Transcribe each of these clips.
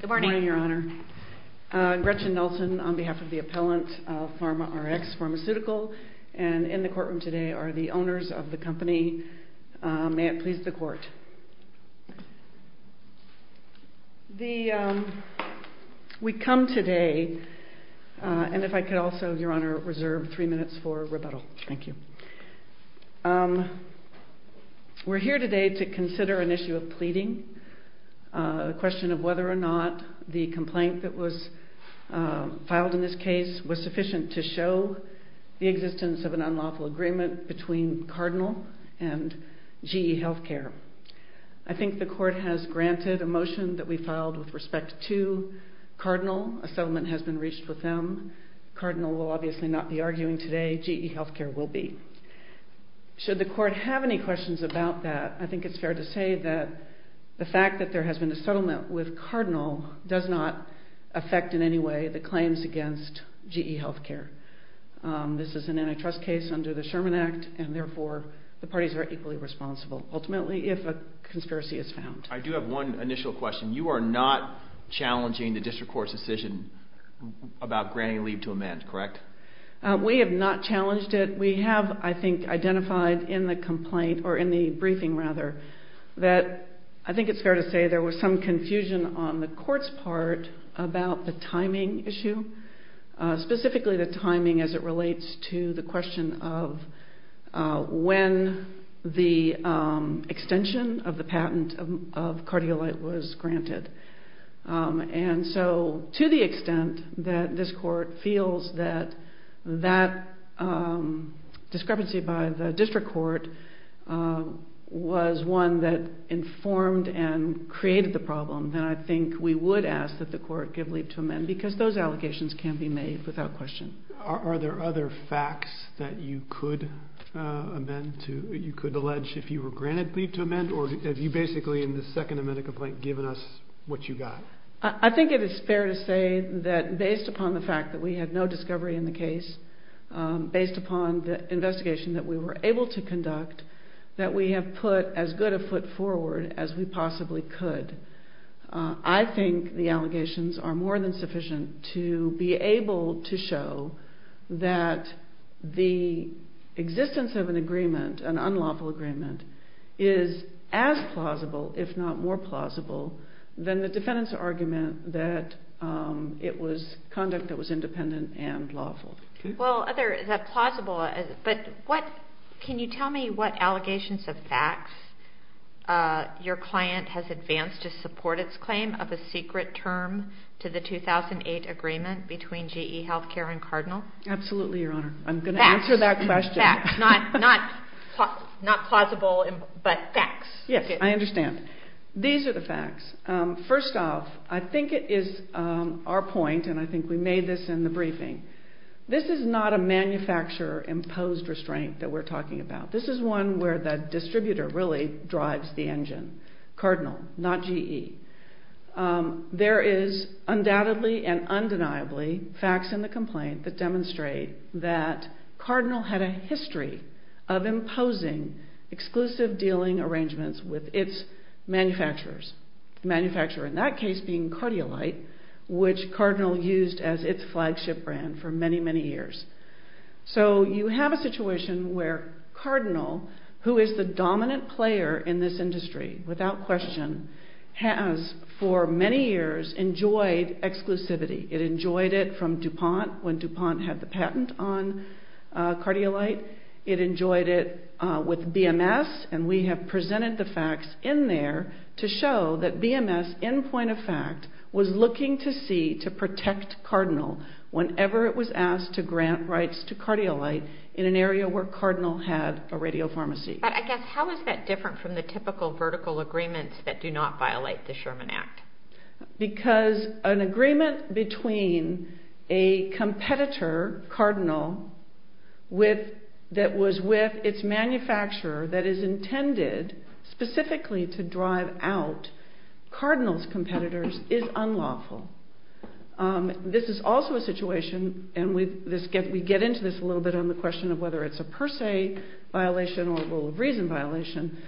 Good morning, Your Honor. Gretchen Nelson on behalf of the appellant of PharmaRx Pharmaceutical and in the courtroom today are the owners of the company. May it please the court. We come today, and if I could also, Your Honor, reserve three minutes for rebuttal. We're here today to consider an issue of pleading, a question of whether or not the complaint that was filed in this case was sufficient to show the existence of an unlawful agreement between Cardinal and GE Healthcare. I think the court has granted a motion that we filed with respect to Cardinal. A settlement has been reached with them. Cardinal will obviously not be arguing today. GE Healthcare will be. Should the court have any questions about that, I think it's fair to say that the fact that there has been a settlement with Cardinal does not affect in any way the claims against GE Healthcare. This is an antitrust case under the Sherman Act and therefore the parties are equally responsible ultimately if a conspiracy is found. I do have one initial question. You are not challenging the district court's decision about granting leave to a man, correct? We have not challenged it. We have, I think, identified in the complaint, or in the briefing rather, that I think it's fair to say there was some confusion on the court's part about the timing issue, specifically the timing as it relates to the question of when the extension of the patent of CardioLite was to the extent that this court feels that that discrepancy by the district court was one that informed and created the problem, then I think we would ask that the court give leave to amend because those allegations can be made without question. Are there other facts that you could amend to, you could allege if you were granted leave to amend, or have you basically in the second amendment complaint given us what you got? I think it is fair to say that based upon the fact that we had no discovery in the case, based upon the investigation that we were able to conduct, that we have put as good a foot forward as we possibly could. I think the allegations are more than sufficient to be able to show that the existence of an agreement, an unlawful agreement, is as plausible if not more plausible than the fact that it was conduct that was independent and lawful. Can you tell me what allegations of facts your client has advanced to support its claim of a secret term to the 2008 agreement between GE Healthcare and Cardinal? Absolutely, Your Honor. I'm going to answer that question. These are the facts. First off, I think it is our point, and I think we made this in the briefing, this is not a manufacturer-imposed restraint that we're talking about. This is one where the distributor really drives the engine, Cardinal, not GE. There is undoubtedly and undeniably facts in the complaint that demonstrate that Cardinal had a history of imposing exclusive dealing arrangements with its manufacturers, the manufacturer in that case being Cardiolite, which Cardinal used as its flagship brand for many, many years. So you have a situation where Cardinal, who is the dominant player in this industry without question, has for many years enjoyed exclusivity. It enjoyed it from DuPont when DuPont had the patent on Cardiolite. It enjoyed it with BMS, and we have presented the facts in there to show that BMS, in point of fact, was looking to see to protect Cardinal whenever it was asked to grant rights to Cardiolite in an area where Cardinal had a radiopharmacy. But I guess, how is that different from the typical vertical agreements that do not violate the Sherman Act? Because an agreement between a competitor, Cardinal, that was with its manufacturer that is intended specifically to drive out Cardinal's competitors is unlawful. This is also a situation, and we get into this a little bit on the question of whether it's a per se violation or a rule of reason violation.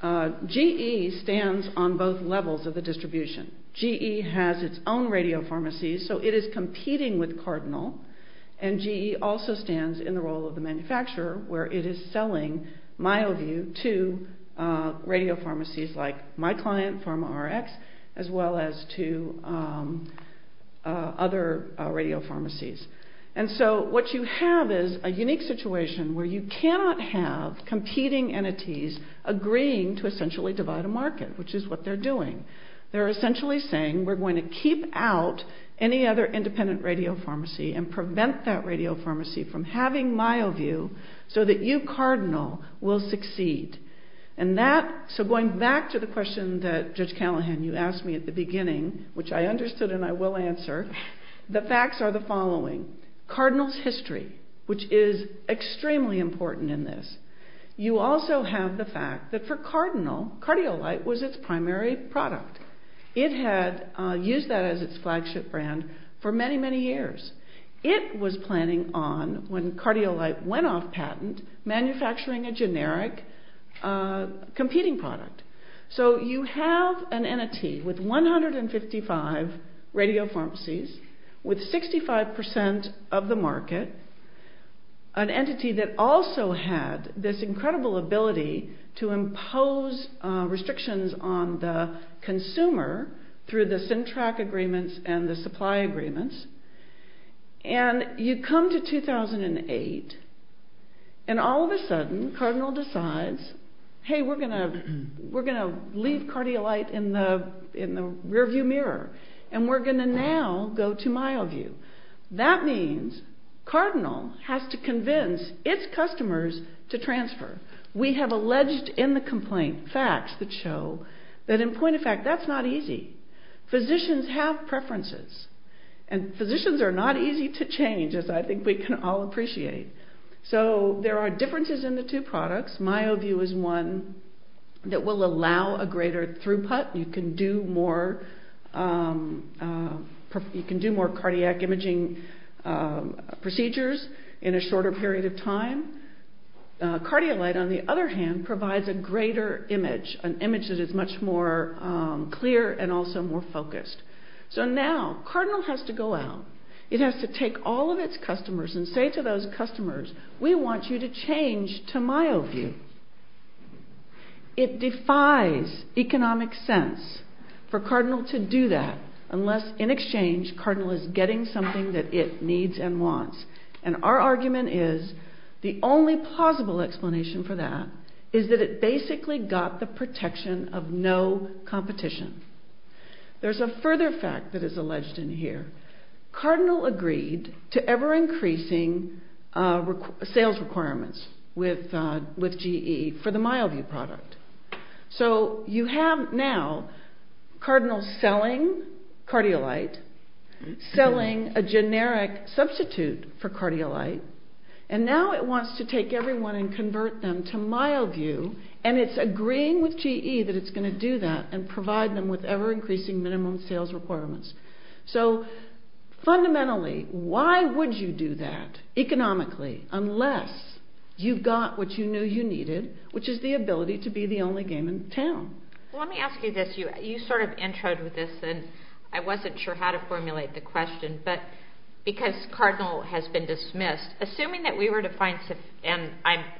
GE stands on both levels of the distribution. GE has its own radiopharmacies, so it is competing with Cardinal, and GE also stands in the role of the manufacturer, where it is selling MyoView to radiopharmacies like my client, PharmaRx, as well as to other radiopharmacies. And so what you have is a unique situation where you cannot have competing entities agreeing to essentially divide a market, which is what they're doing. They're essentially saying we're going to keep out any other independent radiopharmacy and prevent that radiopharmacy from having MyoView so that you, Cardinal, will succeed. And that, so going back to the question that Judge Callahan, you asked me at the beginning, which I understood and I will answer, the facts are the following. Cardinal's history, which is extremely important in this. You also have the fact that for Cardinal, Cardiolite was its primary product. It had used that as its flagship brand for many, many years. It was planning on, when Cardiolite went off patent, manufacturing a generic competing product. So you have an entity with 155 radiopharmacies with 65% of the market, an entity that also had this incredible ability to impose restrictions on the consumer through the SYNTRAC agreements and the supply agreements. And you come to 2008, and all of a sudden, Cardinal decides, hey, we're going to leave Cardiolite in the rearview mirror, and we're going to now go to MyoView. That means Cardinal has to convince its customers to transfer. We have alleged in the complaint facts that show that in point of fact, that's not easy. Physicians have preferences, and physicians are not easy to change, as I think we can all appreciate. So there are differences in the two products. MyoView is one that will allow a greater throughput. You can do more cardiac imaging procedures in a shorter period of time. Cardiolite, on the other hand, provides a greater image, an image that is much more clear and also more focused. So now, Cardinal has to go out. It has to take all of its customers and say to those customers, we want you to change to MyoView. It defies economic sense for Cardinal to do that, unless in exchange, Cardinal is getting something that it needs and wants. And our argument is, the only plausible explanation for that is that it basically got the protection of no competition. There's a further fact that is alleged in here. Cardinal agreed to ever-increasing sales requirements with GE for the MyoView product. So you have now Cardinal selling Cardiolite, selling a generic substitute for Cardiolite, and now it wants to take everyone and convert them to MyoView, and it's agreeing with GE that it's going to do that and provide them with ever-increasing minimum sales requirements. So fundamentally, why would you do that economically, unless you've got what you knew you needed, which is the ability to be the only game in town? Let me ask you this. You sort of introed with this, and I wasn't sure how to formulate the question, but because Cardinal has been dismissed, assuming that we were to find, and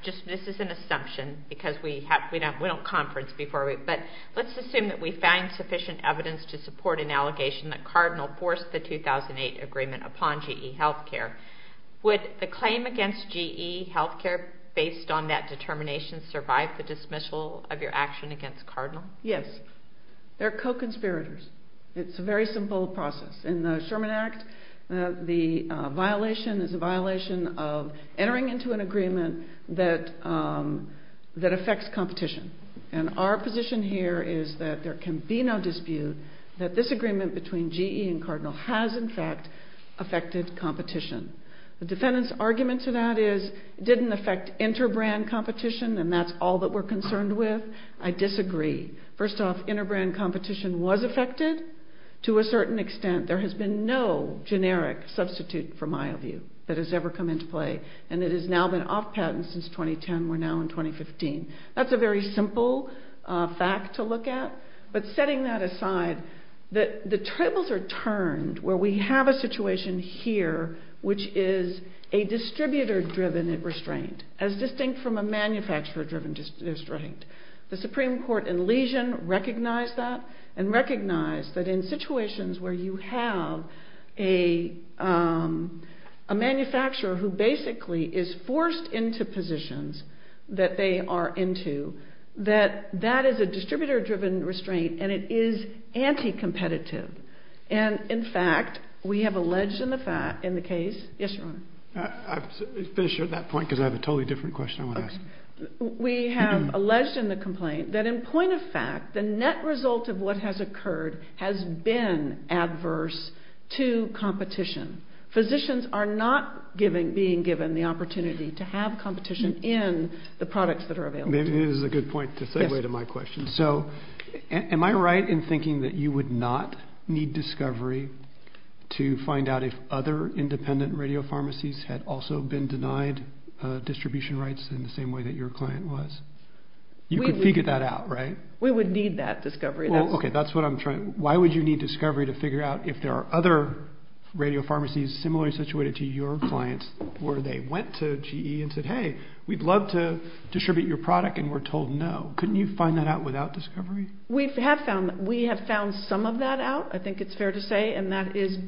this is an assumption because we don't conference before, but let's assume that we find sufficient evidence to support an allegation that Cardinal forced the 2008 agreement upon GE Healthcare. Would the claim against GE Healthcare, based on that determination, survive the dismissal of your action against Cardinal? Yes. They're co-conspirators. It's a very simple process. In the Sherman Act, the violation is a violation of entering into an agreement that affects competition, and our position here is that there can be no dispute that this agreement between GE and Cardinal has, in fact, affected competition. The defendant's argument to that is it didn't affect inter-brand competition, and that's all that we're concerned with. I disagree. First off, inter-brand competition was affected to a certain extent. There has been no generic substitute for MyoView that has ever come into play, and it has now been off-patent since 2010. We're now in 2015. That's a very simple fact to look at, but setting that aside, the tables are turned where we have a situation here, which is a distributor-driven restraint, as distinct from a manufacturer-driven restraint. The Supreme Court in Lesion recognized that and recognized that in situations where you have a manufacturer who basically is forced into positions that they are into, that that is a distributor-driven restraint, and it is anti-competitive, and in fact, we have alleged in the case... Yes, Your Honor? I'll finish at that point, because I have a totally different question I want to ask. We have alleged in the complaint that in point of fact, the net result of what has occurred has been adverse to competition. Physicians are not being given the opportunity to have competition in the products that are available to them. Maybe this is a good point to segue to my question. Am I right in thinking that you would not need discovery to find out if other independent radio pharmacies had also been denied distribution rights in the same way that your client was? You could figure that out, right? We would need that discovery. Okay, that's what I'm trying... Why would you need discovery to figure out if there are other radio pharmacies similarly situated to your clients where they went to GE and said, hey, we'd love to distribute your product, and we're told no. Couldn't you find that out without discovery? We have found some of that out. I think it's fair to say, and that is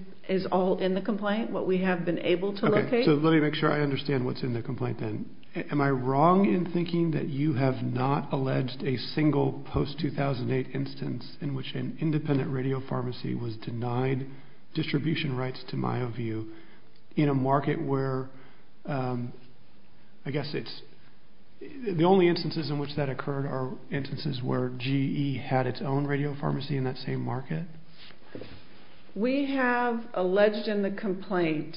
all in the complaint, what we have been able to locate. Okay, so let me make sure I understand what's in the complaint then. Am I wrong in thinking that you have not alleged a single post-2008 instance in which an independent radio pharmacy was denied distribution rights to MyoView in a market where, I guess it's... The only instances in which that occurred are instances where GE had its own radio pharmacy in that same market? We have alleged in the complaint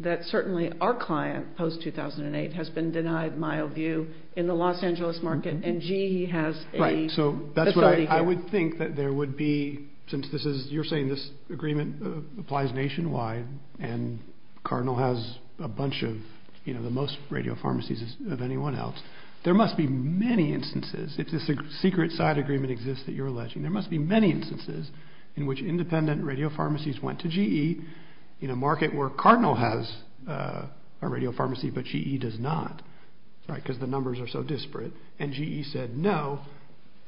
that certainly our client, post-2008, has been denied MyoView in the Los Angeles market, and GE has a facility there. I would think that there would be, since you're saying this agreement applies nationwide, and Cardinal has a bunch of the most radio pharmacies of anyone else, there must be many instances, if this secret side agreement exists that you're alleging, there must be many instances in which independent radio pharmacies went to GE in a market where Cardinal has a radio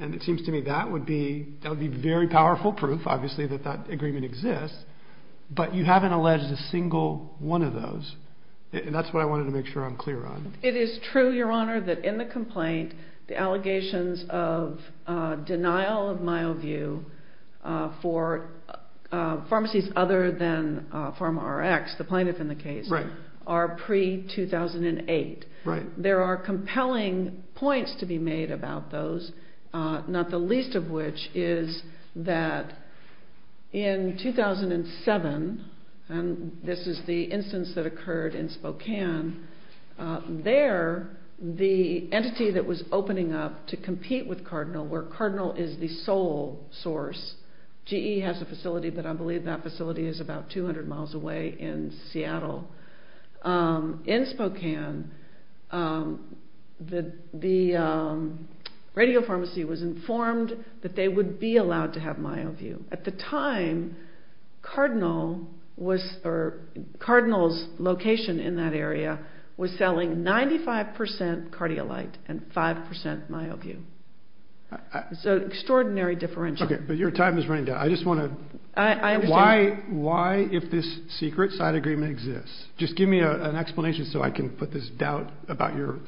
And it seems to me that would be very powerful proof, obviously, that that agreement exists, but you haven't alleged a single one of those, and that's what I wanted to make sure I'm clear on. It is true, Your Honor, that in the complaint, the allegations of denial of MyoView for pharmacies other than Pharma Rx, the plaintiff in the case, are pre-2008. There are compelling points to be made about those, not the least of which is that in 2007, and this is the instance that occurred in Spokane, there, the entity that was opening up to compete with Cardinal, where Cardinal is the sole source, GE has a facility, but I believe that facility is about 200 miles away in Seattle, in Spokane, the company that was opening up to compete with Cardinal, Radio Pharmacy was informed that they would be allowed to have MyoView. At the time, Cardinal was, or Cardinal's location in that area was selling 95% Cardiolite and 5% MyoView. It's an extraordinary differential. Okay, but your time is running down. I just want to, why, why if this secret side agreement exists, just give me an explanation so I can put this doubt about your,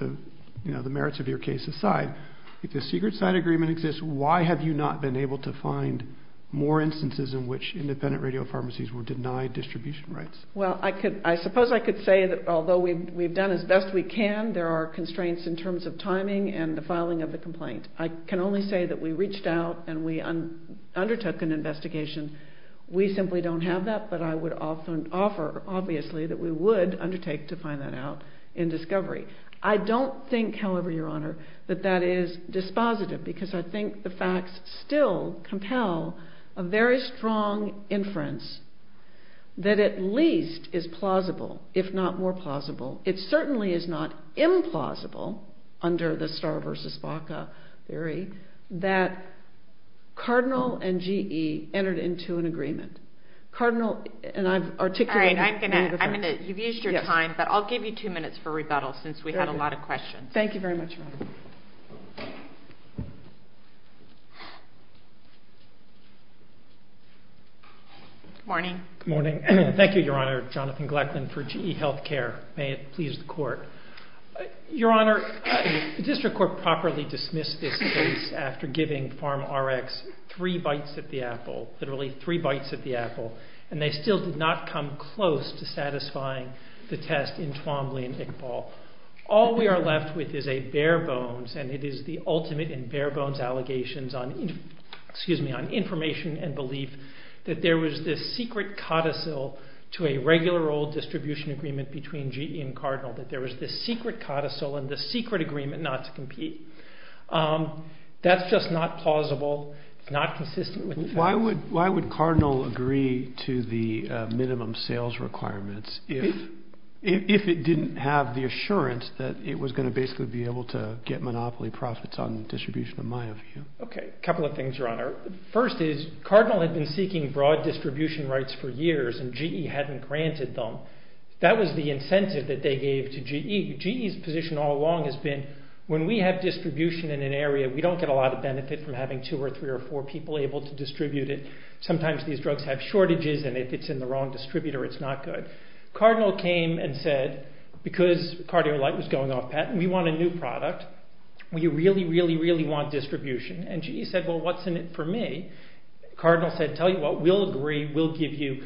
you know, the merits of your case aside. If the secret side agreement exists, why have you not been able to find more instances in which independent radio pharmacies were denied distribution rights? Well, I could, I suppose I could say that although we've done as best we can, there are constraints in terms of timing and the filing of the complaint. I can only say that we reached out and we undertook an investigation. We simply don't have that, but I would often offer, obviously, that we would undertake to find that out in discovery. I don't think, however, Your Honor, that that is dispositive, because I think the facts still compel a very strong inference that at least is plausible, if not more plausible. It certainly is not implausible under the Starr versus Baca theory that Cardinal and GE entered into an agreement. Cardinal, and I've articulated... All right, I'm going to, I'm going to, you've used your time, but I'll give you two minutes for rebuttal since we had a lot of questions. Thank you very much, Your Honor. Good morning. Good morning. Thank you, Your Honor. Jonathan Gleckman for GE Healthcare. May it please the Court. Your Honor, the District Court properly dismissed this case after giving PharmRx three bites at the apple, literally three bites at the apple, and they still did not come close to satisfying the test in Twombly and Iqbal. All we are left with is a bare bones, and it is the ultimate in bare bones allegations on, excuse me, on information and belief that there was this secret codicil to a regular old distribution agreement between GE and Cardinal, that there was this secret codicil and this secret agreement not to compete. That's just not plausible. It's not consistent with the facts. Why would, why would Cardinal agree to the minimum sales requirements if, if it didn't have the assurance that it was going to basically be able to get monopoly profits on distribution in my view? Okay, a couple of things, Your Honor. First is Cardinal had been seeking broad distribution rights for years and GE hadn't granted them. That was the incentive that they gave to GE. GE's position all along has been when we have distribution in an area, we don't get a lot of benefit from having two or three or four people able to distribute it. Sometimes these drugs have shortages and if it's in the wrong distributor, it's not good. Cardinal came and said, because Cardiolite was going off patent, we want a new product. We really, really, really want distribution. And GE said, well, what's in it for me? Cardinal said, tell you what, we'll agree, we'll give you,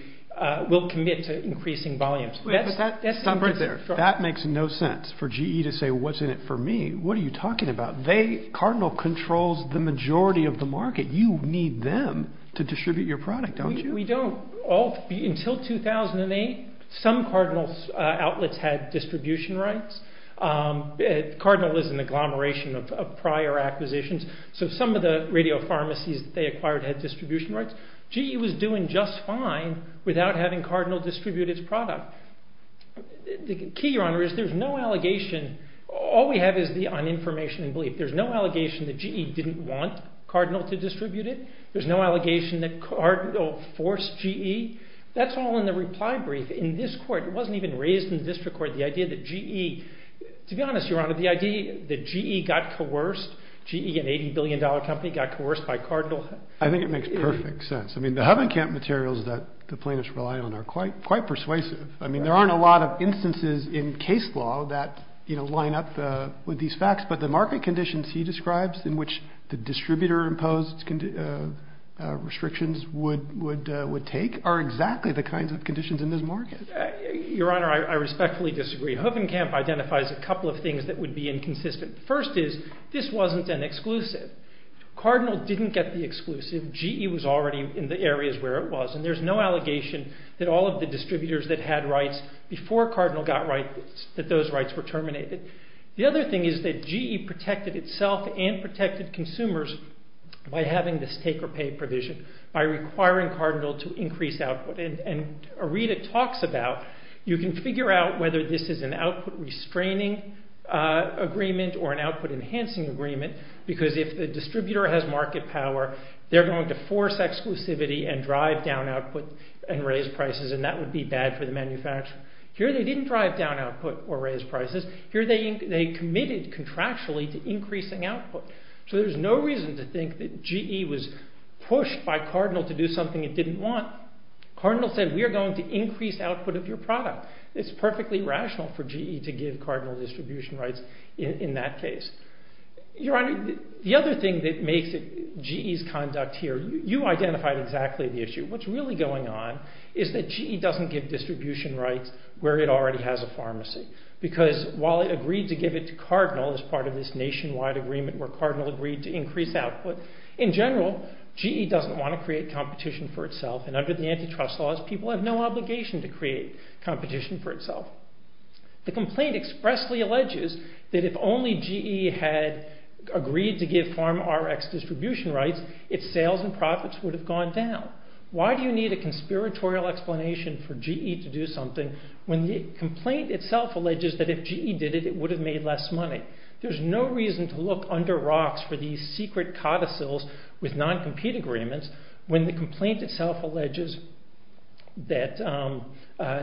we'll commit to increasing volumes. Wait, but that, that's not right there. That makes no sense for GE to say what's in it for me. What are you talking about? They, Cardinal controls the majority of the market. You need them to distribute your product, don't you? We don't. Until 2008, some Cardinal outlets had distribution rights. Cardinal is an agglomeration of prior acquisitions, so some of the radio pharmacies that they acquired had distribution rights. GE was doing just fine without having Cardinal distribute its product. The key, Your Honor, is there's no allegation. All we have is the uninformation and belief. There's no allegation that GE didn't want Cardinal to distribute it. There's no allegation that Cardinal forced GE. That's all in the reply brief. In this court, it wasn't even raised in the district court, the idea that GE, to be honest, Your Honor, the idea that GE got coerced, GE, an $80 billion company, got coerced by Cardinal. I think it makes perfect sense. I mean, the Huffingham materials that the plaintiffs rely on are quite persuasive. I mean, there aren't a lot of instances in case law that line up with these facts, but the market conditions he describes in which the distributor-imposed restrictions would take are exactly the kinds of conditions in this market. Your Honor, I respectfully disagree. Huffingham identifies a couple of things that would be inconsistent. First is, this wasn't an exclusive. Cardinal didn't get the exclusive. GE was already in the areas where it was, and there's no allegation that all of the distributors that had rights before Cardinal got rights, that those rights were terminated. The other thing is that GE protected itself and protected consumers by having this take or pay provision, by requiring Cardinal to increase output, and a read it talks about, you can figure out whether this is an output restraining agreement or an output enhancing agreement, because if the distributor has market power, they're going to force exclusivity and drive down output and raise prices, and that would be bad for the manufacturer. Here they didn't drive down output or raise prices. Here they committed contractually to increasing output. So there's no reason to think that GE was pushed by Cardinal to do something it didn't want. Cardinal said, we're going to increase output of your product. It's perfectly rational for GE to give Cardinal distribution rights in that case. Your Honor, the other thing that makes it GE's conduct here, you identified exactly the issue. What's really going on is that GE doesn't give distribution rights where it already has a pharmacy, because while it agreed to give it to Cardinal as part of this nationwide agreement where Cardinal agreed to increase output, in general, GE doesn't want to create competition for itself, and under the antitrust laws, people have no obligation to create competition for itself. The complaint expressly alleges that if only GE had agreed to give pharma RX distribution rights, its sales and profits would have gone down. Why do you need a conspiratorial explanation for GE to do something when the complaint itself alleges that if GE did it, it would have made less money? There's no reason to look under rocks for these secret codicils with non-compete agreements when the complaint itself alleges that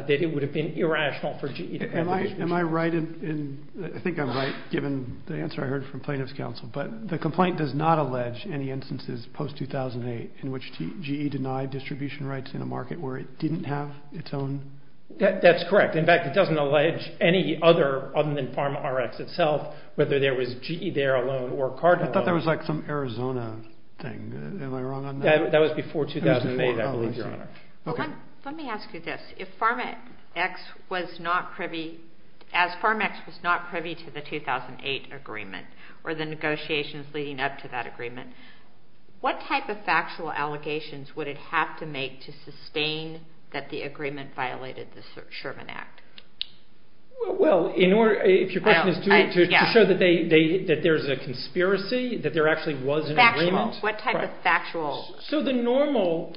it would have been irrational for GE to... Am I right? I think I'm right, given the answer I heard from plaintiff's counsel, but the complaint does not allege any instances post-2008 in which GE denied distribution rights in a market where it didn't have its own... That's correct. In fact, it doesn't allege any other, other than pharma RX itself, whether there was GE there alone or... I thought there was some Arizona thing. Am I wrong on that? That was before 2008, I believe, Your Honor. Let me ask you this. If pharma X was not privy... As pharma X was not privy to the 2008 agreement, or the negotiations leading up to that agreement, what type of factual allegations would it have to make to sustain that the agreement was an agreement? What type of factual... So the normal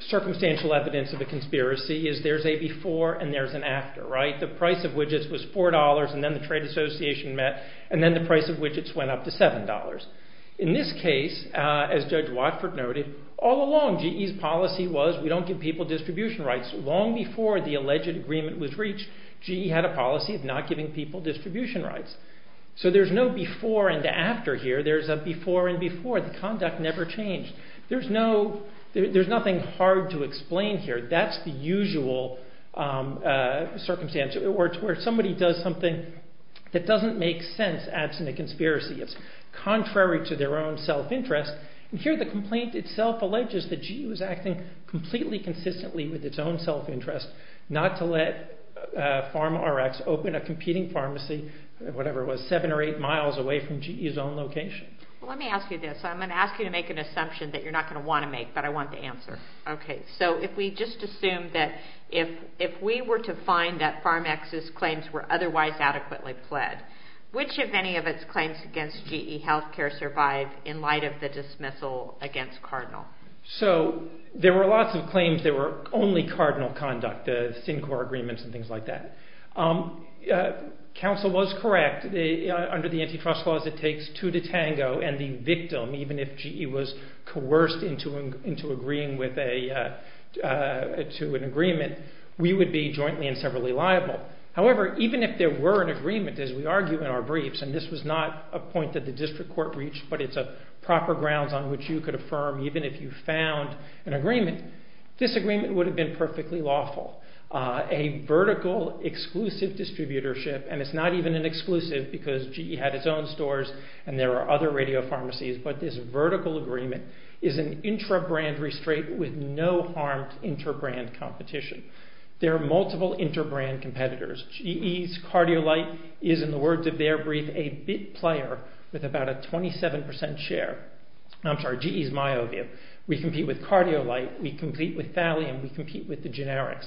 circumstantial evidence of a conspiracy is there's a before and there's an after, right? The price of widgets was $4 and then the trade association met, and then the price of widgets went up to $7. In this case, as Judge Watford noted, all along GE's policy was we don't give people distribution rights. Long before the alleged agreement was reached, GE had a policy of not giving people distribution rights. So there's no before and after here. There's a before and before. The conduct never changed. There's no... There's nothing hard to explain here. That's the usual circumstance where somebody does something that doesn't make sense absent a conspiracy. It's contrary to their own self-interest. And here the complaint itself alleges that GE was acting completely consistently with its own self-interest, not to let pharma RX open a competing pharmacy, whatever it was, 7 or 8 miles away from GE's own location. Let me ask you this. I'm going to ask you to make an assumption that you're not going to want to make, but I want the answer. Okay. So if we just assume that if we were to find that Pharma X's claims were otherwise adequately pled, which of any of its claims against GE Healthcare survived in light of the dismissal against Cardinal? So there were lots of claims that were only Cardinal conduct, the Syncor agreements and things like that. Counsel was correct. Under the antitrust laws, it takes two to tango and the victim, even if GE was coerced into agreeing to an agreement, we would be jointly and severally liable. However, even if there were an agreement, as we argue in our briefs, and this was not a point that the district court reached, but it's a proper grounds on which you could affirm even if you found an agreement. This agreement would have been perfectly lawful. A vertical exclusive distributorship, and it's not even an exclusive because GE had its own stores and there are other radio pharmacies, but this vertical agreement is an intra-brand restraint with no harmed inter-brand competition. There are multiple inter-brand competitors. GE's Cardiolite is, in the words of their brief, a bit player with about a 27% share. I'm sorry, GE's Myovia. We compete with Cardiolite, we compete with Thallium, we compete with the generics.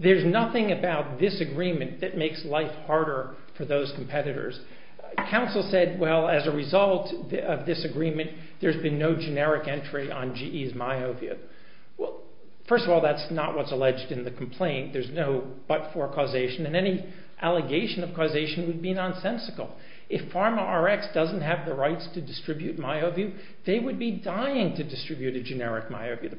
There's nothing about this agreement that makes life harder for those competitors. Counsel said, well, as a result of this agreement, there's been no generic entry on GE's Myovia. Well, first of all, that's not what's alleged in the complaint. There's no but-for causation and any allegation of causation would be nonsensical. If Pharma RX doesn't have the rights to distribute Myovia, they would be dying to distribute a generic Myovia.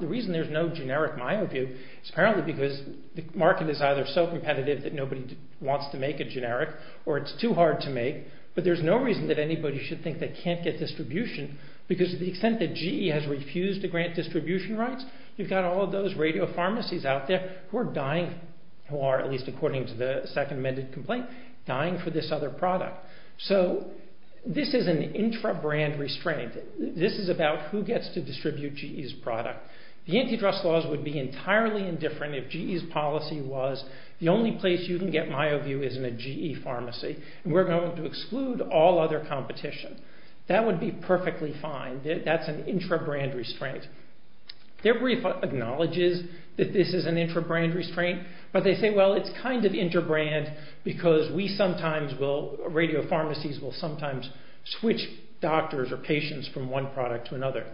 The reason there's no generic Myovia is apparently because the market is either so competitive that nobody wants to make a generic or it's too hard to make, but there's no reason that anybody should think they can't get distribution because of the extent that GE has refused to grant distribution rights. You've got all of those radio pharmacies out there who are dying, who are, at least according to the second amended complaint, dying for this other product. So this is an intra-brand restraint. This is about who gets to distribute GE's product. The antitrust laws would be entirely indifferent if GE's policy was the only place you can get Myovia is in a GE pharmacy and we're going to exclude all other competition. That would be perfectly fine. That's an intra-brand restraint. Their brief acknowledges that this is an intra-brand restraint, but they say, well, it's kind of inter-brand because we sometimes will, radio pharmacies will sometimes switch doctors or patients from one product to another.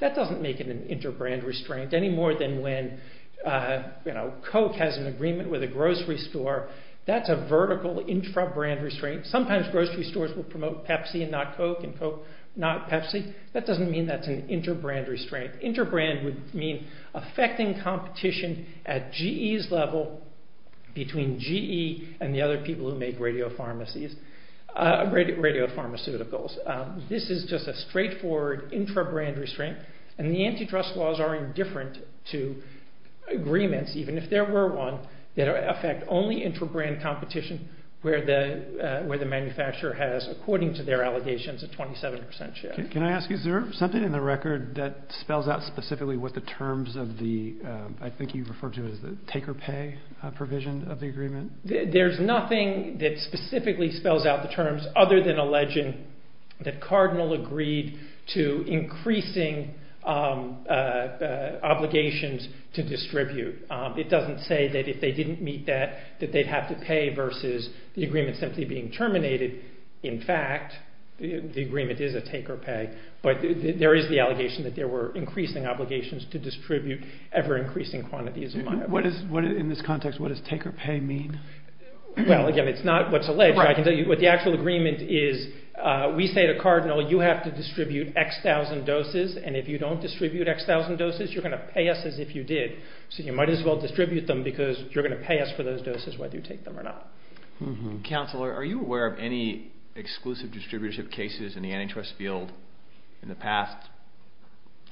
That doesn't make it an inter-brand restraint any more than when, you know, Coke has an agreement with a grocery store. That's a vertical intra-brand restraint. Sometimes grocery stores will promote Pepsi and not Coke and Coke not Pepsi. That doesn't mean that's an inter-brand restraint. Inter-brand would mean affecting competition at GE's level between GE and the other people who make radio pharmacies, radio pharmaceuticals. This is just a straightforward intra-brand restraint and the antitrust laws are indifferent to agreements, even if there were one, that affect only intra-brand competition where the manufacturer has, according to their allegations, a 27% share. Can I ask you, is there something in the record that spells out specifically what the terms of the, I think you referred to as the take or pay provision of the agreement? There's nothing that specifically spells out the terms other than alleging that Cardinal agreed to increasing obligations to distribute. It doesn't say that if they didn't meet that, that they'd have to pay versus the agreement simply being terminated. In fact, the agreement is a take or pay, but there is the allegation that there were increasing obligations to distribute ever increasing quantities. In this context, what does take or pay mean? Well, again, it's not what's alleged. What the actual agreement is, we say to Cardinal, you have to distribute X thousand doses and if you don't distribute X thousand doses, you're going to pay us as if you did. So you might as well distribute them because you're going to pay us for those doses whether you take them or not. Counselor, are you aware of any exclusive distributorship cases in the antitrust field in the past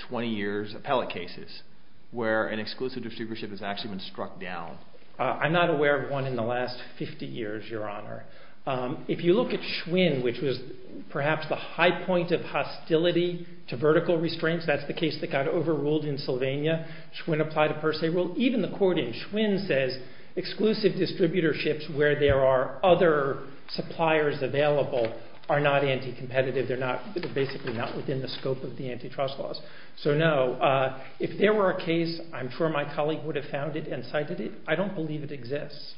20 years, appellate cases, where an exclusive distributorship has actually been struck down? I'm not aware of one in the last 50 years, Your Honor. If you look at Schwinn, which was perhaps the high point of hostility to vertical restraints, that's the case that got overruled in Sylvania. Schwinn applied a per se rule. Even the court in Schwinn says exclusive distributorships where there are other suppliers available are not anti-competitive. They're basically not within the scope of the antitrust laws. So no, if there were a case, I'm sure my colleague would have found it and cited it. I don't believe it exists.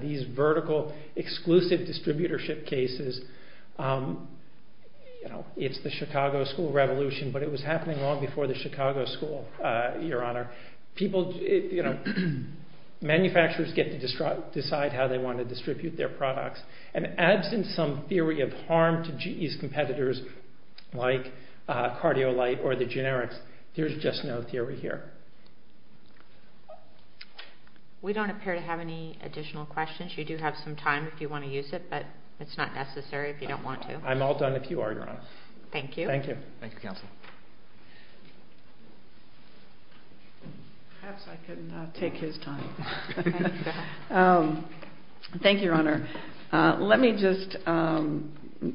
These vertical exclusive distributorship cases, it's the Chicago school revolution, but it was happening long before the Chicago school, Your Honor. Manufacturers get to decide how they want to distribute their products, and absent some theory of harm to GE's competitors like CardioLite or the generics, there's just no theory here. We don't appear to have any additional questions. You do have some time if you want to use it, but it's not necessary if you don't want to. I'm all done if you are, Your Honor. Thank you. Thank you, Counsel. Perhaps I can take his time. Thank you, Your Honor. Let me just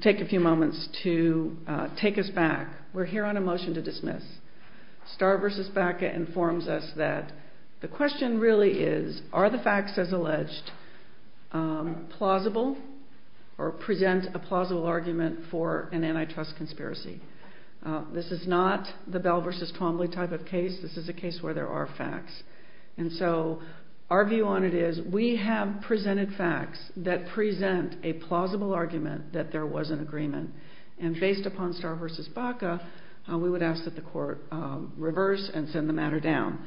take a few moments to take us back. We're here on a motion to dismiss. Starr v. Baca informs us that the question really is, are the facts as alleged plausible or present a plausible argument for an antitrust conspiracy? This is not the Bell v. Twombly type of case. This is a case where there are facts. Our view on it is we have presented facts that present a plausible argument that there was an agreement. Based upon Starr v. Baca, we would ask that the court reverse and send the matter down.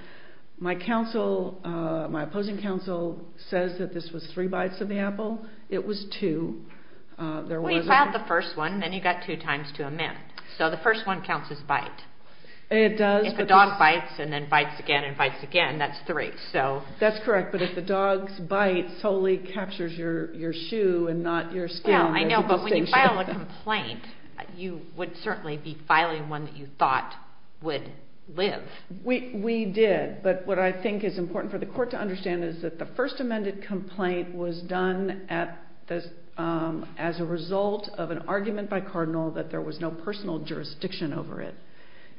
My opposing counsel says that this was three bites of the apple. It was two. Well, you filed the first one, and then you got two times to amend. So the first one counts as bite. It does. If a dog bites and then bites again and bites again, that's three. That's correct, but if the dog's bite solely captures your shoe and not your skin, there's a distinction. I know, but when you file a complaint, you would certainly be filing one that you thought would live. We did, but what I think is important for the court to understand is that the first was a result of an argument by Cardinal that there was no personal jurisdiction over it.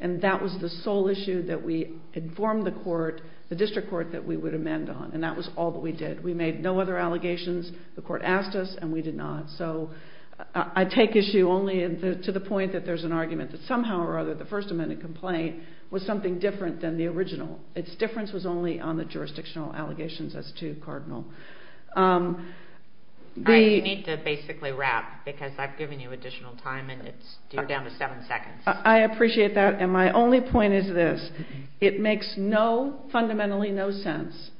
And that was the sole issue that we informed the court, the district court, that we would amend on. And that was all that we did. We made no other allegations. The court asked us, and we did not. So I take issue only to the point that there's an argument that somehow or other the First Amendment complaint was something different than the original. Its difference was only on the jurisdictional allegations as to Cardinal. You need to basically wrap, because I've given you additional time, and you're down to seven seconds. I appreciate that, and my only point is this. It makes fundamentally no sense,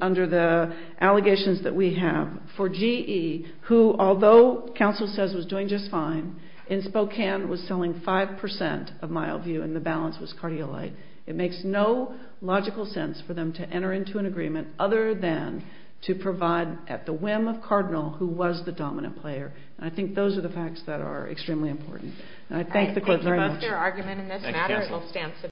under the allegations that we have, for GE, who although counsel says was doing just fine, in Spokane was selling five percent of Mile View, and the balance was Cardialite. It makes no logical sense for them to enter into an agreement other than to provide, at the whim of Cardinal, who was the dominant player. And I think those are the facts that are extremely important. And I thank the court very much.